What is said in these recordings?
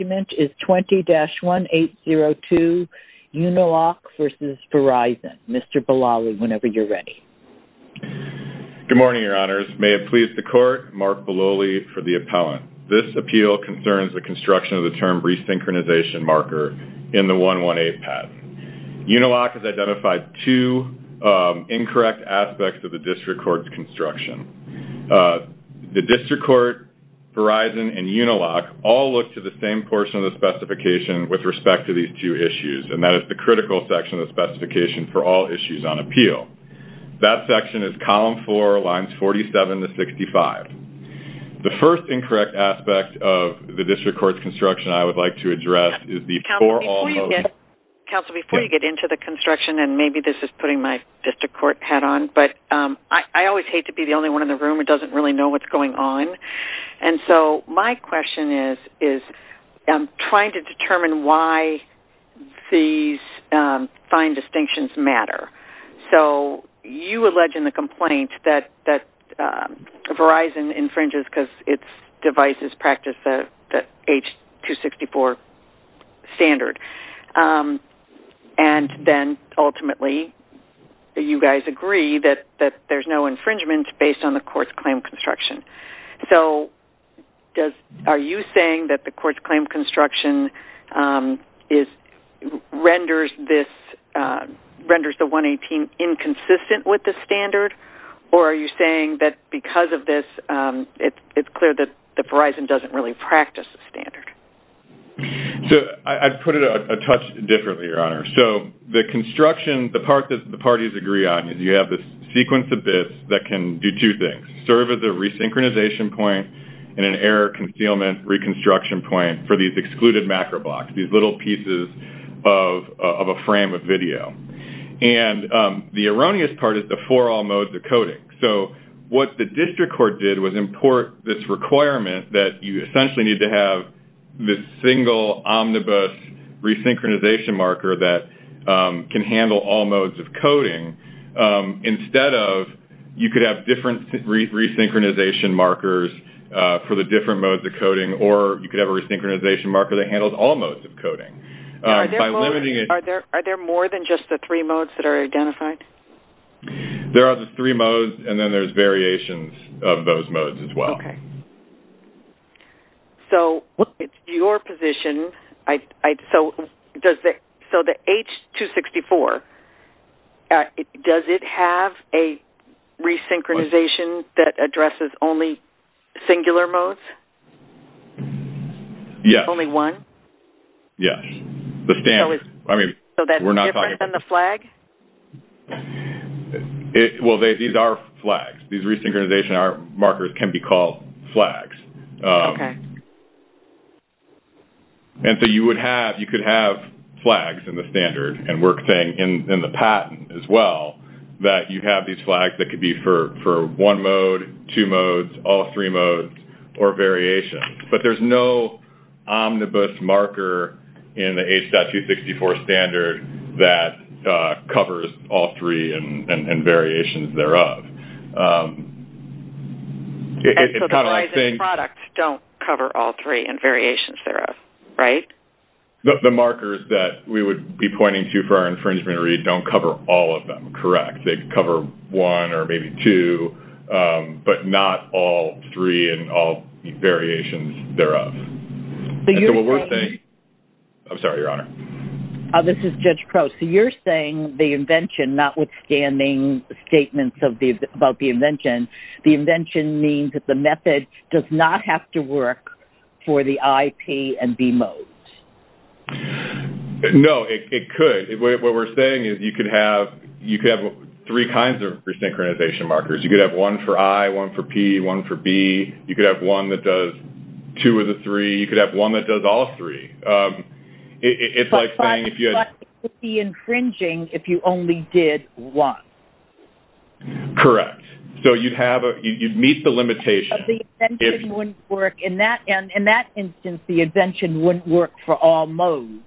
is 20-1802 Uniloc vs. Verizon. Mr. Biloli, whenever you're ready. Good morning, your honors. May it please the court, Mark Biloli for the appellant. This appeal concerns the construction of the term resynchronization marker in the 118 patent. Uniloc has identified two incorrect aspects of the district court's construction. The district court, Verizon, and Uniloc all look to the same portion of the specification with respect to these two issues, and that is the critical section of the specification for all issues on appeal. That section is column 4, lines 47 to 65. The first incorrect aspect of the district court's construction I would like to address is the for all... Counsel, before you get into the construction, and maybe this is putting my district court hat on, but I always hate to be the only one in the room who doesn't really know what's going on, and so my question is trying to determine why these fine distinctions matter. So you allege in the complaint that Verizon infringes because its devices practice the H.264 standard, and then ultimately you guys agree that there's no infringement based on the court's claim construction. So are you saying that the court's claim construction renders the 118 inconsistent with the standard, or are you saying that because of this it's clear that the Verizon doesn't really practice the standard? So I'd put it a touch differently, Your Honor. So the construction, the part that the parties agree on, is you have this sequence of bits that can do two things, serve as a resynchronization point and an error concealment reconstruction point for these excluded macro blocks, these little pieces of a frame of video, and the requirement that you essentially need to have this single omnibus resynchronization marker that can handle all modes of coding instead of you could have different resynchronization markers for the different modes of coding, or you could have a resynchronization marker that handles all modes of coding. Are there more than just the three modes that are identified? There are the three modes, and then there's variations of those modes as well. So it's your position, so the H-264, does it have a resynchronization that addresses only singular modes? Yes. Only one? Yes, the standard. So that's different than the flag? Well, these are flags. These can be called flags. Okay. And so you would have, you could have flags in the standard and work thing in the patent as well, that you have these flags that could be for one mode, two modes, all three modes, or variations, but there's no omnibus marker in the H.264 standard that covers all three and variations thereof. And so the revised products don't cover all three and variations thereof, right? The markers that we would be pointing to for our infringement read don't cover all of them, correct. They cover one or maybe two, but not all three and all variations thereof. I'm sorry, Your Honor. This is Judge Crow. So you're saying the invention, notwithstanding statements about the invention, the invention means that the method does not have to work for the I, P, and B modes? No, it could. What we're saying is you could have three kinds of resynchronization markers. You could have one for I, one for P, one for B. You could have one that does two of the three. You could have one that does all three. It's like saying it would be infringing if you only did one. Correct. So you'd meet the limitation. In that instance, the invention wouldn't work for all modes,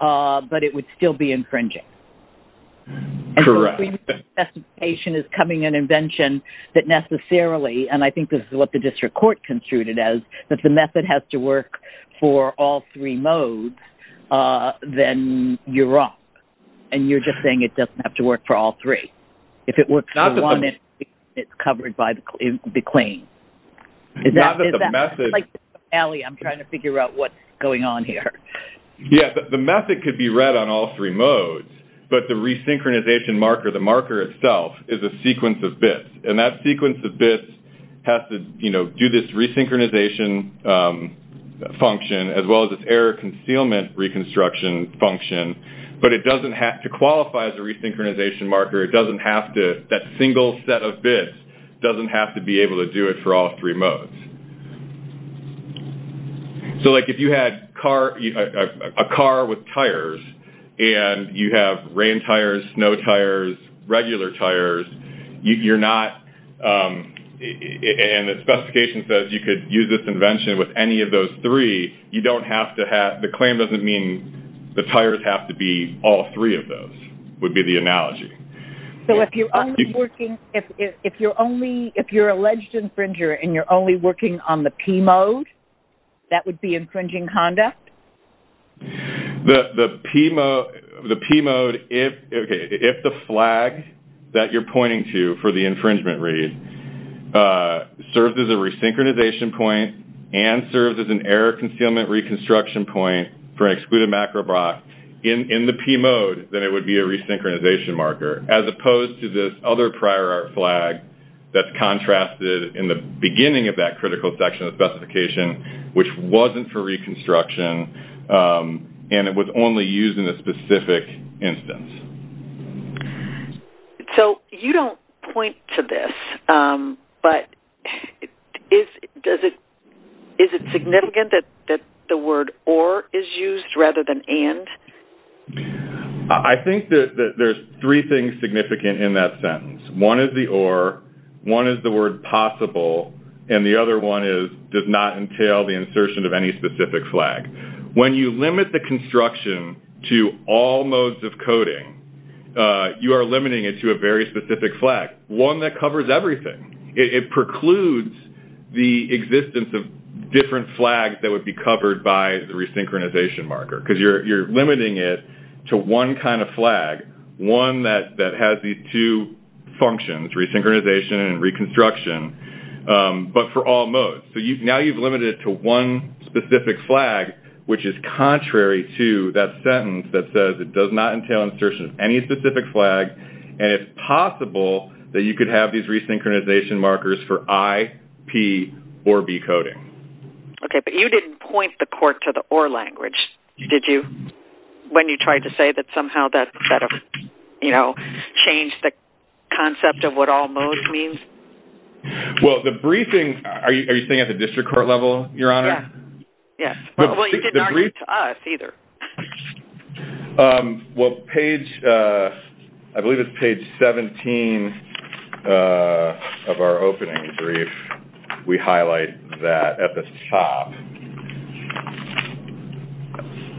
but it would still be infringing. Correct. And so we would think that an invention is coming that necessarily, and I think this is what the district court construed it as, that the you're wrong. And you're just saying it doesn't have to work for all three. If it works for one, it's covered by the claim. Not that the method... Ali, I'm trying to figure out what's going on here. Yes, the method could be read on all three modes, but the resynchronization marker, the marker itself, is a sequence of bits. And that sequence of bits has to do this concealment reconstruction function, but it doesn't have to qualify as a resynchronization marker. It doesn't have to... That single set of bits doesn't have to be able to do it for all three modes. So if you had a car with tires, and you have rain tires, snow tires, regular tires, you're not... And the specification says you could use this invention with any of those three. You don't have to have... The claim doesn't mean the tires have to be all three of those, would be the analogy. So if you're only working... If you're only... If you're alleged infringer, and you're only working on the P mode, that would be infringing conduct? The P mode, if the flag that you're pointing to for the infringement read serves as a resynchronization point and serves as an error concealment reconstruction point for an excluded macro block, in the P mode, then it would be a resynchronization marker, as opposed to this other prior art flag that's contrasted in the beginning of that critical section of the specification, which wasn't for reconstruction, and it was only used in a specific instance. So you don't point to this, but is it significant that the word or is used rather than and? I think that there's three things significant in that sentence. One is the or, one is the word possible, and the other one is does not entail the insertion of any specific flag. When you limit the you are limiting it to a very specific flag, one that covers everything. It precludes the existence of different flags that would be covered by the resynchronization marker, because you're limiting it to one kind of flag, one that has these two functions, resynchronization and reconstruction, but for all modes. So now you've limited it to one specific flag, which is contrary to that sentence that says it does not entail insertion of any specific flag, and it's possible that you could have these resynchronization markers for I, P, or B coding. Okay, but you didn't point the court to the or language, did you? When you tried to say that somehow that, you know, changed the concept of what all modes means? Well, the briefing, are you saying at the district court level, Your Honor? Yes. Well, you didn't argue to us either. Well, page, I believe it's page 17 of our opening brief, we highlight that at the top.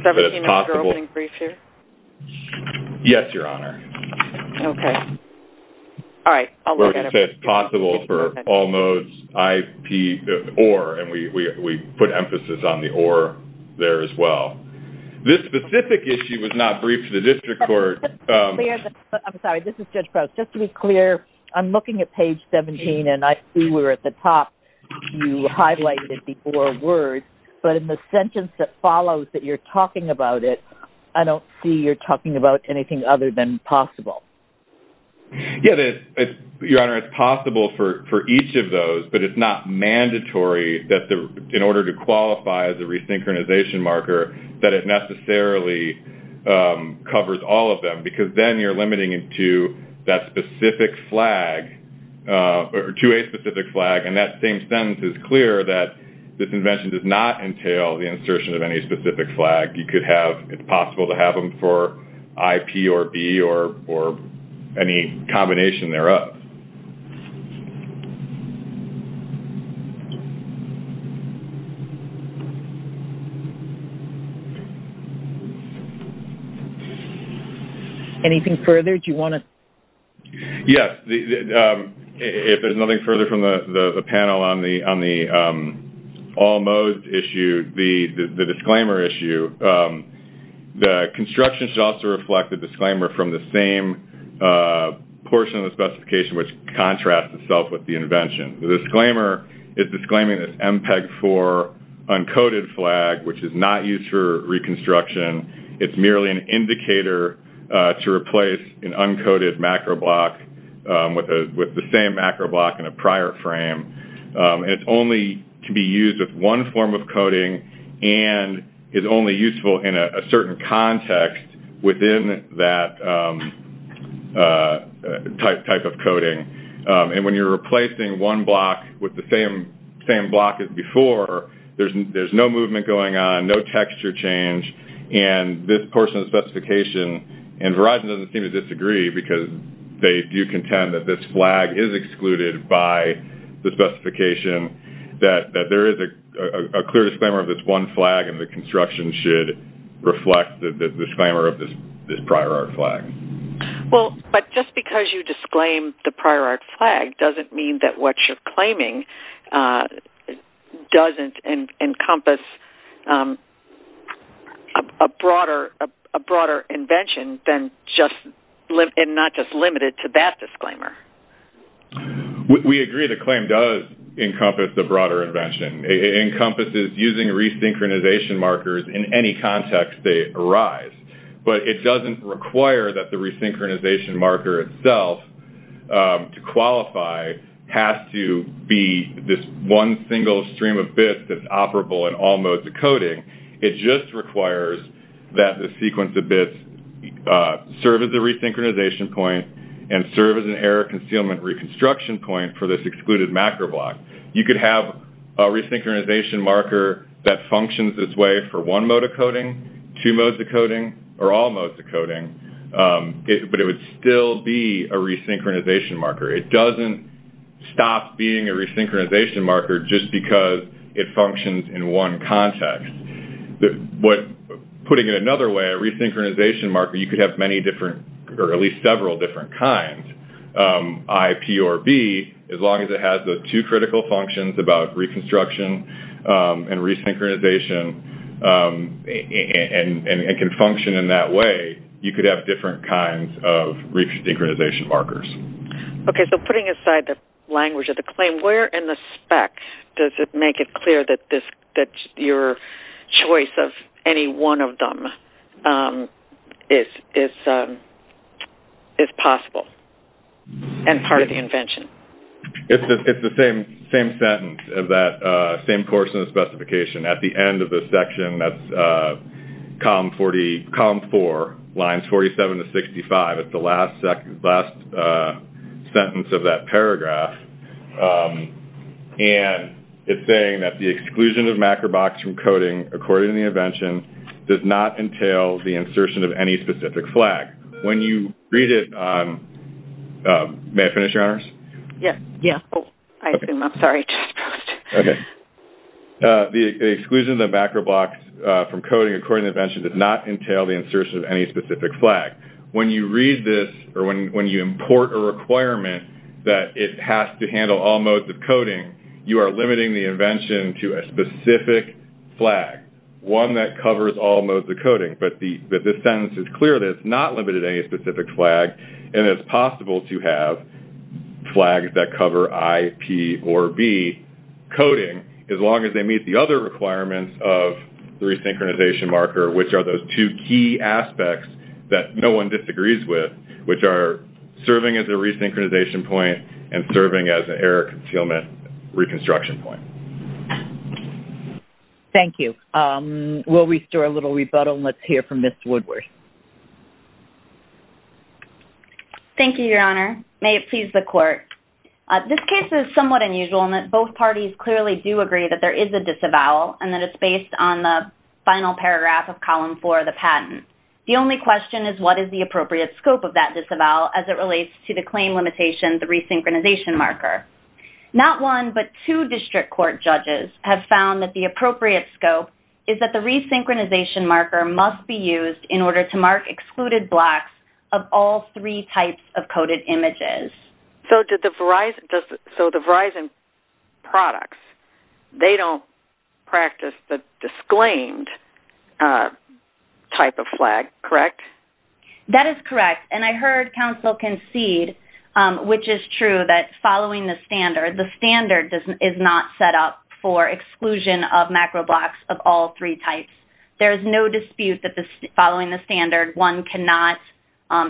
17 of your opening brief here? Yes, Your Honor. Okay. All right. We're going to say it's possible for all modes, I, P, or, and we put emphasis on the or there as well. This specific issue was not briefed to the district court. I'm sorry, this is Judge Prowse. Just to be clear, I'm looking at page 17, and I see we're at the top. You highlighted the or word, but in the sentence that follows that you're talking about it, I don't see you're talking about anything other than possible. Yeah, Your Honor, it's possible for each of those, but it's not mandatory that in order to qualify as a that it necessarily covers all of them, because then you're limiting it to that specific flag, or to a specific flag, and that same sentence is clear that this invention does not entail the insertion of any specific flag. You could have, it's possible to have them for I, P, or, B, or any combination thereof. Anything further? Do you want to? Yes. If there's nothing further from the panel on the all modes issue, the disclaimer issue, the construction should also reflect the disclaimer from the same portion of the specification, which contrasts itself with the invention. The disclaimer is disclaiming this MPEG-4 uncoated flag, which is not used for reconstruction. It's merely an indicator to replace an uncoated macro block with the same macro block in a prior frame. It's only to be used with one form of coding, and is only useful in a certain context within that type of coding. And when you're replacing one block with the same block as before, there's no movement going on, no texture change, and this portion of the specification, and Verizon doesn't seem to disagree, because they do contend that this flag is excluded by the specification, that there is a clear disclaimer of this one and that this portion should reflect the disclaimer of this prior art flag. Well, but just because you disclaim the prior art flag doesn't mean that what you're claiming doesn't encompass a broader invention than just, and not just limited to that disclaimer. We agree the claim does encompass a broader invention. It encompasses using resynchronization markers in any context they arise. But it doesn't require that the resynchronization marker itself to qualify has to be this one single stream of bits that's operable in the entire concealment reconstruction point for this excluded macro block. You could have a resynchronization marker that functions its way for one mode of coding, two modes of coding, or all modes of coding, but it would still be a resynchronization marker. It doesn't stop being a resynchronization marker just because it functions in one context. Putting it another way, a resynchronization marker, you could have many different, or at least several different kinds. I, P, or B, as long as it has the two critical functions about reconstruction and resynchronization and can function in that way, you could have different kinds of resynchronization markers. Putting aside the language of the claim, where in the spec does it make it clear that your choice of any one of them is possible and part of the invention? It's the same sentence of that same portion of the specification. At the end of the section, that's column four, lines 47 to 65. It's the last sentence of that paragraph. It's saying that the exclusion of macro blocks from coding according to the invention does not entail the insertion of any specific flag. When you read it, may I finish, Your Honors? Yes. I assume. I'm sorry. The exclusion of the macro blocks from coding according to the invention does not entail the insertion of any specific flag. When you read this, or when you import a requirement that it has to handle all modes of coding, you are limiting the invention to a specific flag, one that covers all modes of coding. But this sentence is clear that it's not limited to any specific flag, and it's possible to have flags that cover I, P, or B coding, as long as they meet the other requirements of the resynchronization marker, which are those two key aspects that no one disagrees with, which are serving as a resynchronization point and serving as an error concealment reconstruction point. Thank you. We'll restore a little rebuttal, and let's hear from Ms. Woodworth. Thank you, Your Honor. May it please the Court. This case is somewhat unusual in that both parties clearly do agree that there is a disavowal, and that it's based on the final paragraph of column four of the patent. The only question is what is the appropriate scope of that disavowal as it relates to the claim limitation, the resynchronization marker. Not one, but two district court judges have found that the appropriate scope is that the resynchronization marker must be used in order to mark excluded blocks of all three types of coded images. So the Verizon products, they don't practice the disclaimed type of flag, correct? That is correct, and I heard counsel concede, which is true, that following the standard, the standard is not set up for exclusion of macro blocks of all three types. There is no dispute that following the standard, one cannot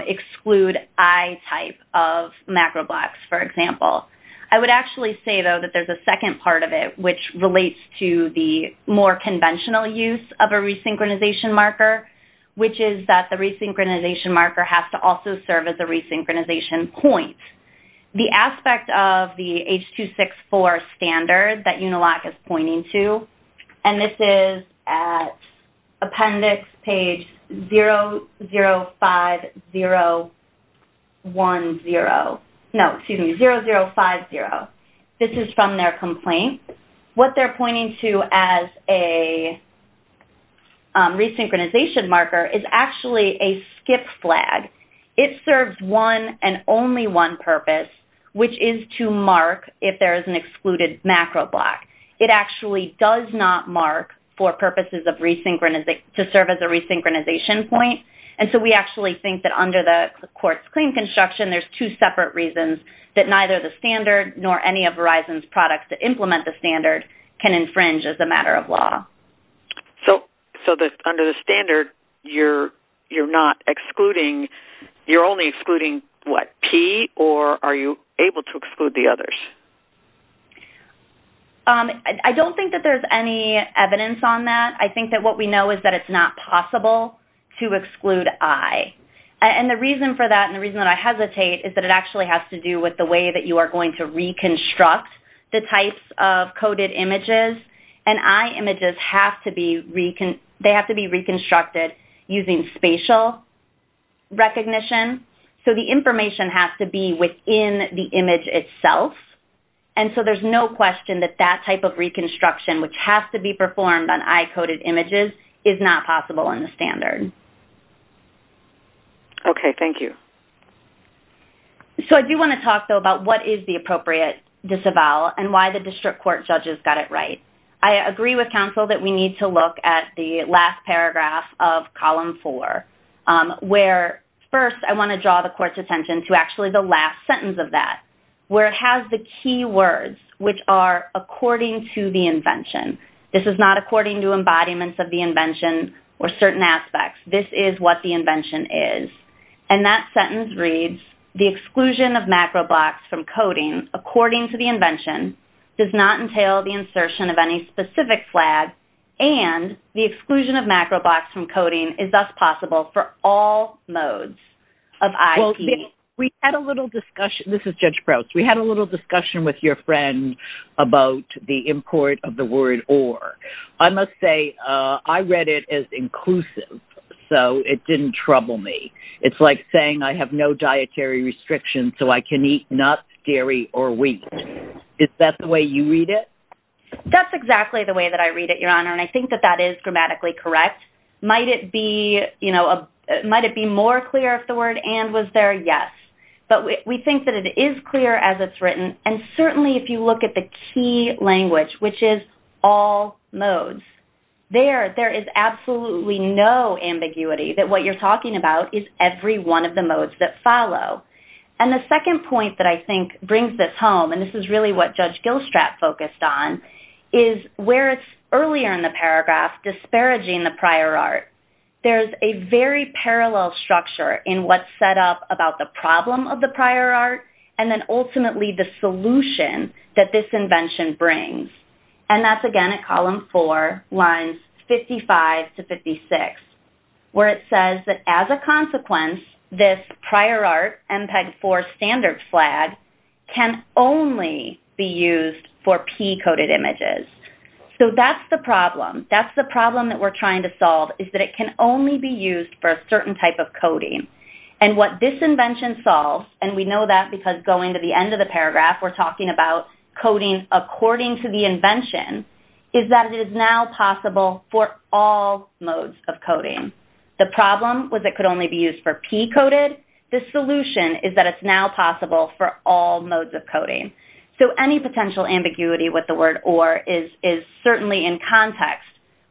exclude I type of macro blocks, for example. I would actually say, though, that there's a second part of it, which relates to the more conventional use of a resynchronization marker, which is that the resynchronization marker has to also serve as a resynchronization point. The aspect of the H.264 standard that Uniloc is pointing to, and this is at appendix page 005010, no, excuse me, 0050. This is from their complaint. What they're pointing to as a resynchronization marker is actually a skip flag. It serves one and only one purpose, which is to mark if there is an excluded macro block. It actually does not mark for purposes of resynchronization, to serve as a resynchronization point, and so we actually think that under the court's claim construction, there's two separate reasons that neither the standard nor any of Verizon's products that implement the standard can infringe as a matter of law. So under the standard, you're only excluding, what, P, or are you able to exclude the others? I don't think that there's any evidence on that. I think that what we know is that it's not possible to exclude I. The reason for that and the reason that I hesitate is that it actually has to do with the way that you are going to reconstruct the types of coded images, and I images have to be reconstructed using spatial recognition. So the information has to be within the image itself, and so there's no question that that type of reconstruction, which has to be performed on I-coded images, is not possible in the standard. Okay. Thank you. So I do want to talk, though, about what is the appropriate disavowal and why the district court judges got it right. I agree with counsel that we need to look at the last paragraph of column four, where first I want to draw the court's attention to actually the last sentence of that, where it has the key words, which are according to the invention. This is not according to embodiments of the invention or certain aspects. This is what the invention is, and that sentence reads, the exclusion of macro blocks from coding according to the invention does not entail the insertion of any specific flag, and the exclusion of macro blocks from coding is thus possible for all modes of I. We had a little discussion. This is Judge Prowse. We had a little discussion with your friend about the import of the word or. I must say I read it as inclusive, so it didn't trouble me. It's like saying I have no dietary restrictions, so I can eat nuts, dairy, or wheat. Is that the way you read it? That's exactly the way that I read it, Your Honor, and I think that that is grammatically correct. Might it be more clear if the word and was there? Yes, but we think that it is clear as it's written, and certainly if you look at the key language, which is all modes, there is absolutely no ambiguity that what you're talking about is every one of the modes that follow, and the second point that I think brings this home, and this is really what Judge Gilstrat focused on, is where it's earlier in the paragraph disparaging the prior art. There's a very parallel structure in what's set up about the problem of the prior art and then ultimately the solution that this invention brings, and that's again at column four, lines 55 to 56, where it says that as a consequence, this prior art MPEG-4 standard flag can only be used for P-coded images. So that's the problem. That's the problem that we're trying to solve is that it can only be used for a certain type of coding, and what this invention solves, and we know that because going to the end of the paragraph, we're talking about coding according to the invention, is that it is now possible for all modes of coding. The problem was it could only be used for P-coded. The solution is that it's now possible for all modes of coding. So any potential ambiguity with the word or is certainly in context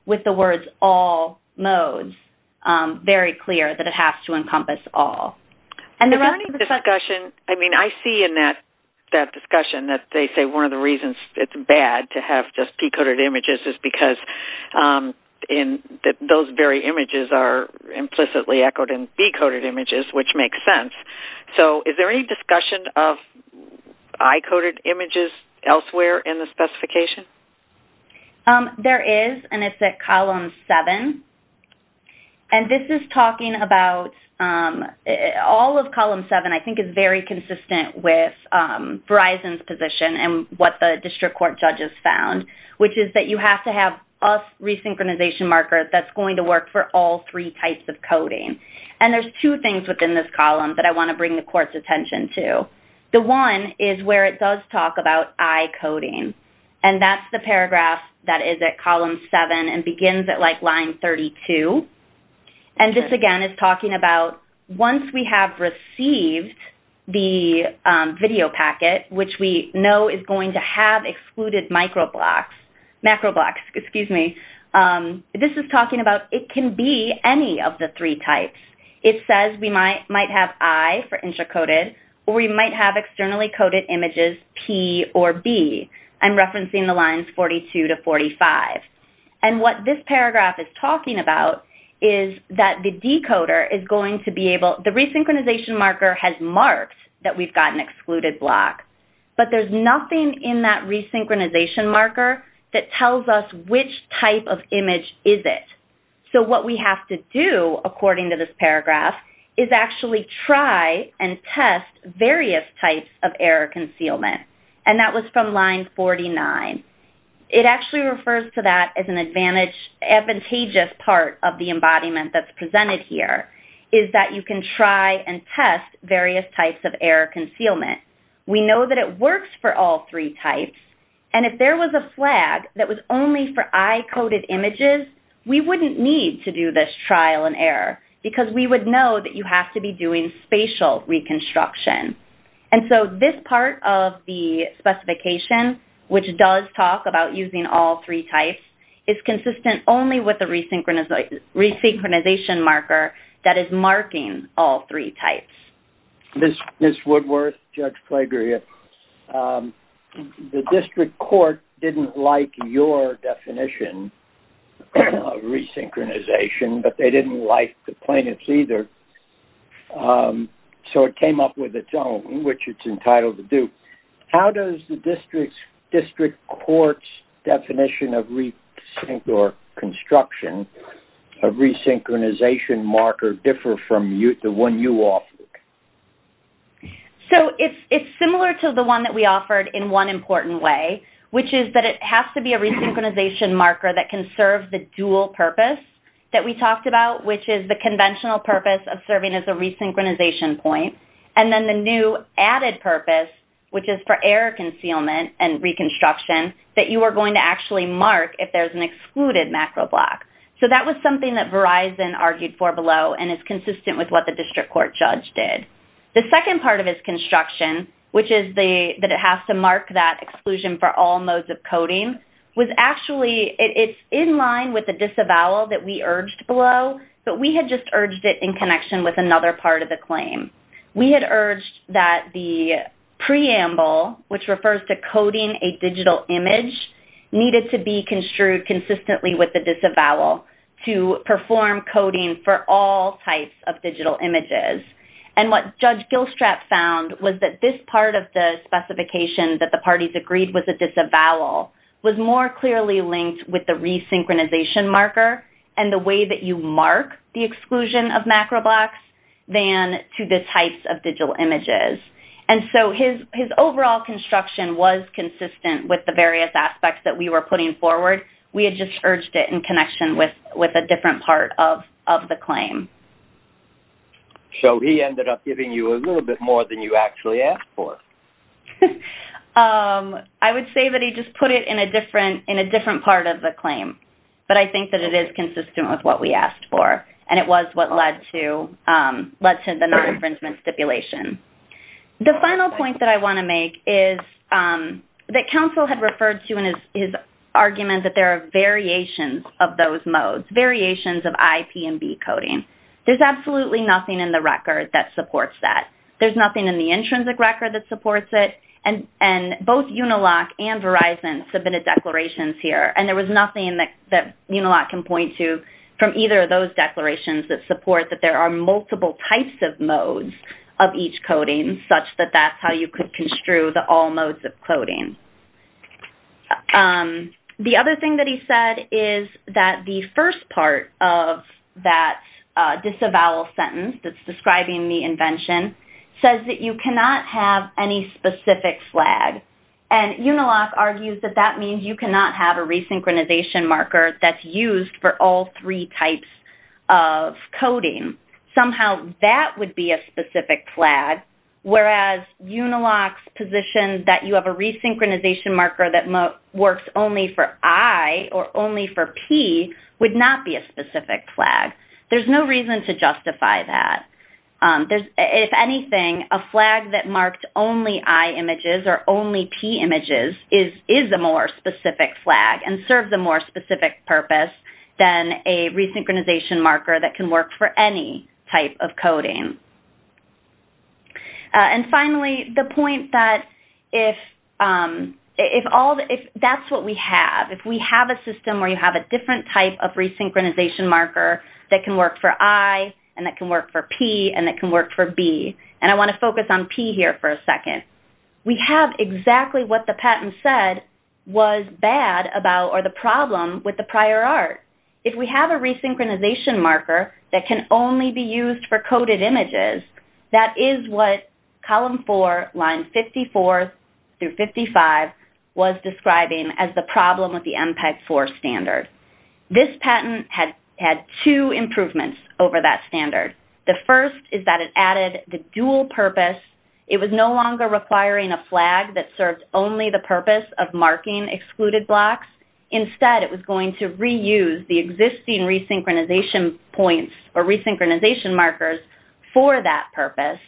with the words all modes, very clear that it has to encompass all. Is there any discussion? I mean, I see in that discussion that they say one of the reasons it's bad to have just P-coded images is because those very images are implicitly echoed in B-coded images, which makes sense. So is there any discussion of I-coded images elsewhere in the specification? There is, and it's at column seven. And this is talking about all of column seven I think is very consistent with Verizon's position and what the district court judges found, which is that you have to have a resynchronization marker that's going to work for all three types of coding. And there's two things within this column that I want to bring the court's attention to. The one is where it does talk about I-coding, and that's the paragraph that is at column seven and begins at line 32. And this, again, is talking about once we have received the video packet, which we know is going to have excluded macro blocks, this is talking about it can be any of the three types. It says we might have I for intra-coded, or we might have externally coded images P or B. I'm referencing the lines 42 to 45. And what this paragraph is talking about is that the decoder is going to be able – the resynchronization marker has marked that we've got an excluded block, but there's nothing in that resynchronization marker that tells us which type of image is it. So what we have to do, according to this paragraph, is actually try and test various types of error concealment. And that was from line 49. It actually refers to that as an advantageous part of the embodiment that's presented here, is that you can try and test various types of error concealment. We know that it works for all three types. And if there was a flag that was only for I-coded images, we wouldn't need to do this trial and error because we would know that you have to be doing spatial reconstruction. And so this part of the specification, which does talk about using all three types, is consistent only with the resynchronization marker that is marking all three types. Ms. Woodworth, Judge Plagria, the district court didn't like your definition of resynchronization, but they didn't like the plaintiff's either. So it came up with its own, which it's entitled to do. How does the district court's definition of reconstruction, of resynchronization marker, differ from the one you offered? So it's similar to the one that we offered in one important way, which is that it has to be a resynchronization marker that can serve the dual purpose that we talked about, which is the conventional purpose of serving as a resynchronization point, and then the new added purpose, which is for error concealment and reconstruction, that you are going to actually mark if there's an excluded macro block. So that was something that Verizon argued for below and is consistent with what the district court judge did. The second part of its construction, which is that it has to mark that exclusion for all modes of coding, was actually, it's in line with the disavowal that we urged below, but we had just urged it in connection with another part of the claim. We had urged that the preamble, which refers to coding a digital image, needed to be construed consistently with the disavowal to perform coding for all types of digital images. And what Judge Gilstrap found was that this part of the specification that the parties agreed was a disavowal was more clearly linked with the resynchronization marker and the way that you mark the exclusion of macro blocks than to the types of digital images. And so his overall construction was consistent with the various aspects that we were putting forward. We had just urged it in connection with a different part of the claim. So he ended up giving you a little bit more than you actually asked for. I would say that he just put it in a different part of the claim, but I think that it is consistent with what we asked for, and it was what led to the non-infringement stipulation. The final point that I want to make is that counsel had referred to in his argument that there are variations of those modes, variations of I, P, and B coding. There's absolutely nothing in the record that supports that. There's nothing in the intrinsic record that supports it, and both UNILOC and Verizon submitted declarations here, and there was nothing that UNILOC can point to from either of those declarations that support that there are multiple types of modes of each coding, such that that's how you could construe the all modes of coding. The other thing that he said is that the first part of that disavowal sentence that's describing the invention says that you cannot have any specific flag, and UNILOC argues that that means you cannot have a resynchronization marker that's used for all three types of coding. Somehow that would be a specific flag, whereas UNILOC's position that you have a resynchronization marker that works only for I or only for P would not be a specific flag. There's no reason to justify that. If anything, a flag that marked only I images or only P images is a more specific flag and serves a more specific purpose than a resynchronization marker that can work for any type of coding. Finally, the point that if that's what we have, if we have a system where you have a different type of resynchronization marker that can work for I and that can work for P and that can work for B, and I want to focus on P here for a second, we have exactly what the patent said was bad about or the problem with the prior art. If we have a resynchronization marker that can only be used for coded images, that is what column four, lines 54 through 55, was describing as the problem with the MPEG-4 standard. This patent had two improvements over that standard. The first is that it added the dual purpose. It was no longer requiring a flag that served only the purpose of marking excluded blocks. Instead, it was going to reuse the existing resynchronization points or resynchronization markers for that purpose.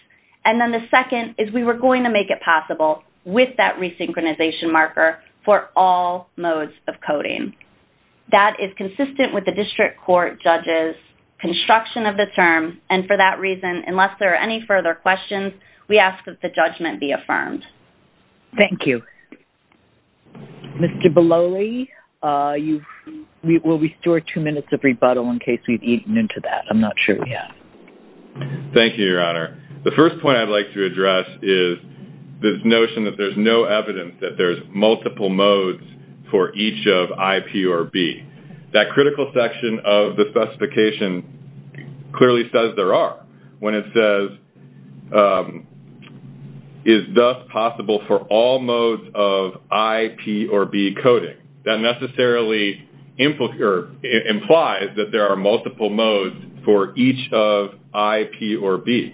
And then the second is we were going to make it possible with that resynchronization marker for all modes of coding. That is consistent with the district court judge's construction of the term, and for that reason, unless there are any further questions, we ask that the judgment be affirmed. Thank you. Mr. Beloli, will we store two minutes of rebuttal in case we've eaten into that? I'm not sure yet. Thank you, Your Honor. The first point I'd like to address is this notion that there's no evidence that there's multiple modes for each of I, P, or B. That critical section of the specification clearly says there are. When it says, is thus possible for all modes of I, P, or B coding, that necessarily implies that there are multiple modes for each of I, P, or B.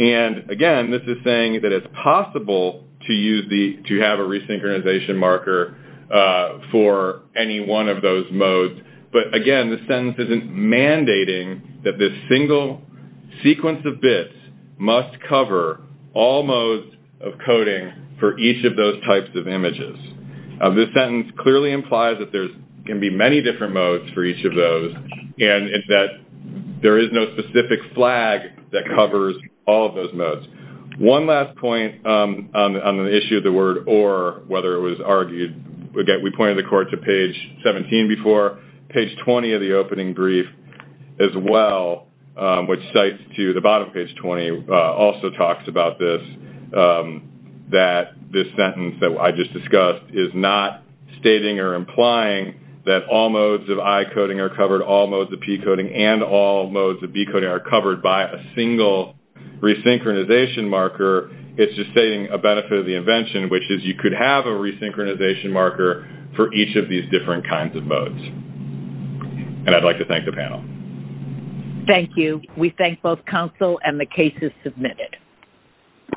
And, again, this is saying that it's possible to have a resynchronization marker for any one of those modes. But, again, this sentence isn't mandating that this single sequence of bits must cover all modes of coding for each of those types of images. This sentence clearly implies that there can be many different modes for each of those and that there is no specific flag that covers all of those modes. One last point on the issue of the word or, whether it was argued, again, we pointed the court to page 17 before. Page 20 of the opening brief as well, which cites to the bottom of page 20, also talks about this, that this sentence that I just discussed is not stating or implying that all modes of I coding are covered, all modes of P coding, and all modes of B coding are covered by a single resynchronization marker. It's just stating a benefit of the invention, which is you could have a resynchronization marker for each of these different kinds of modes. And I'd like to thank the panel. Thank you. We thank both counsel and the cases submitted.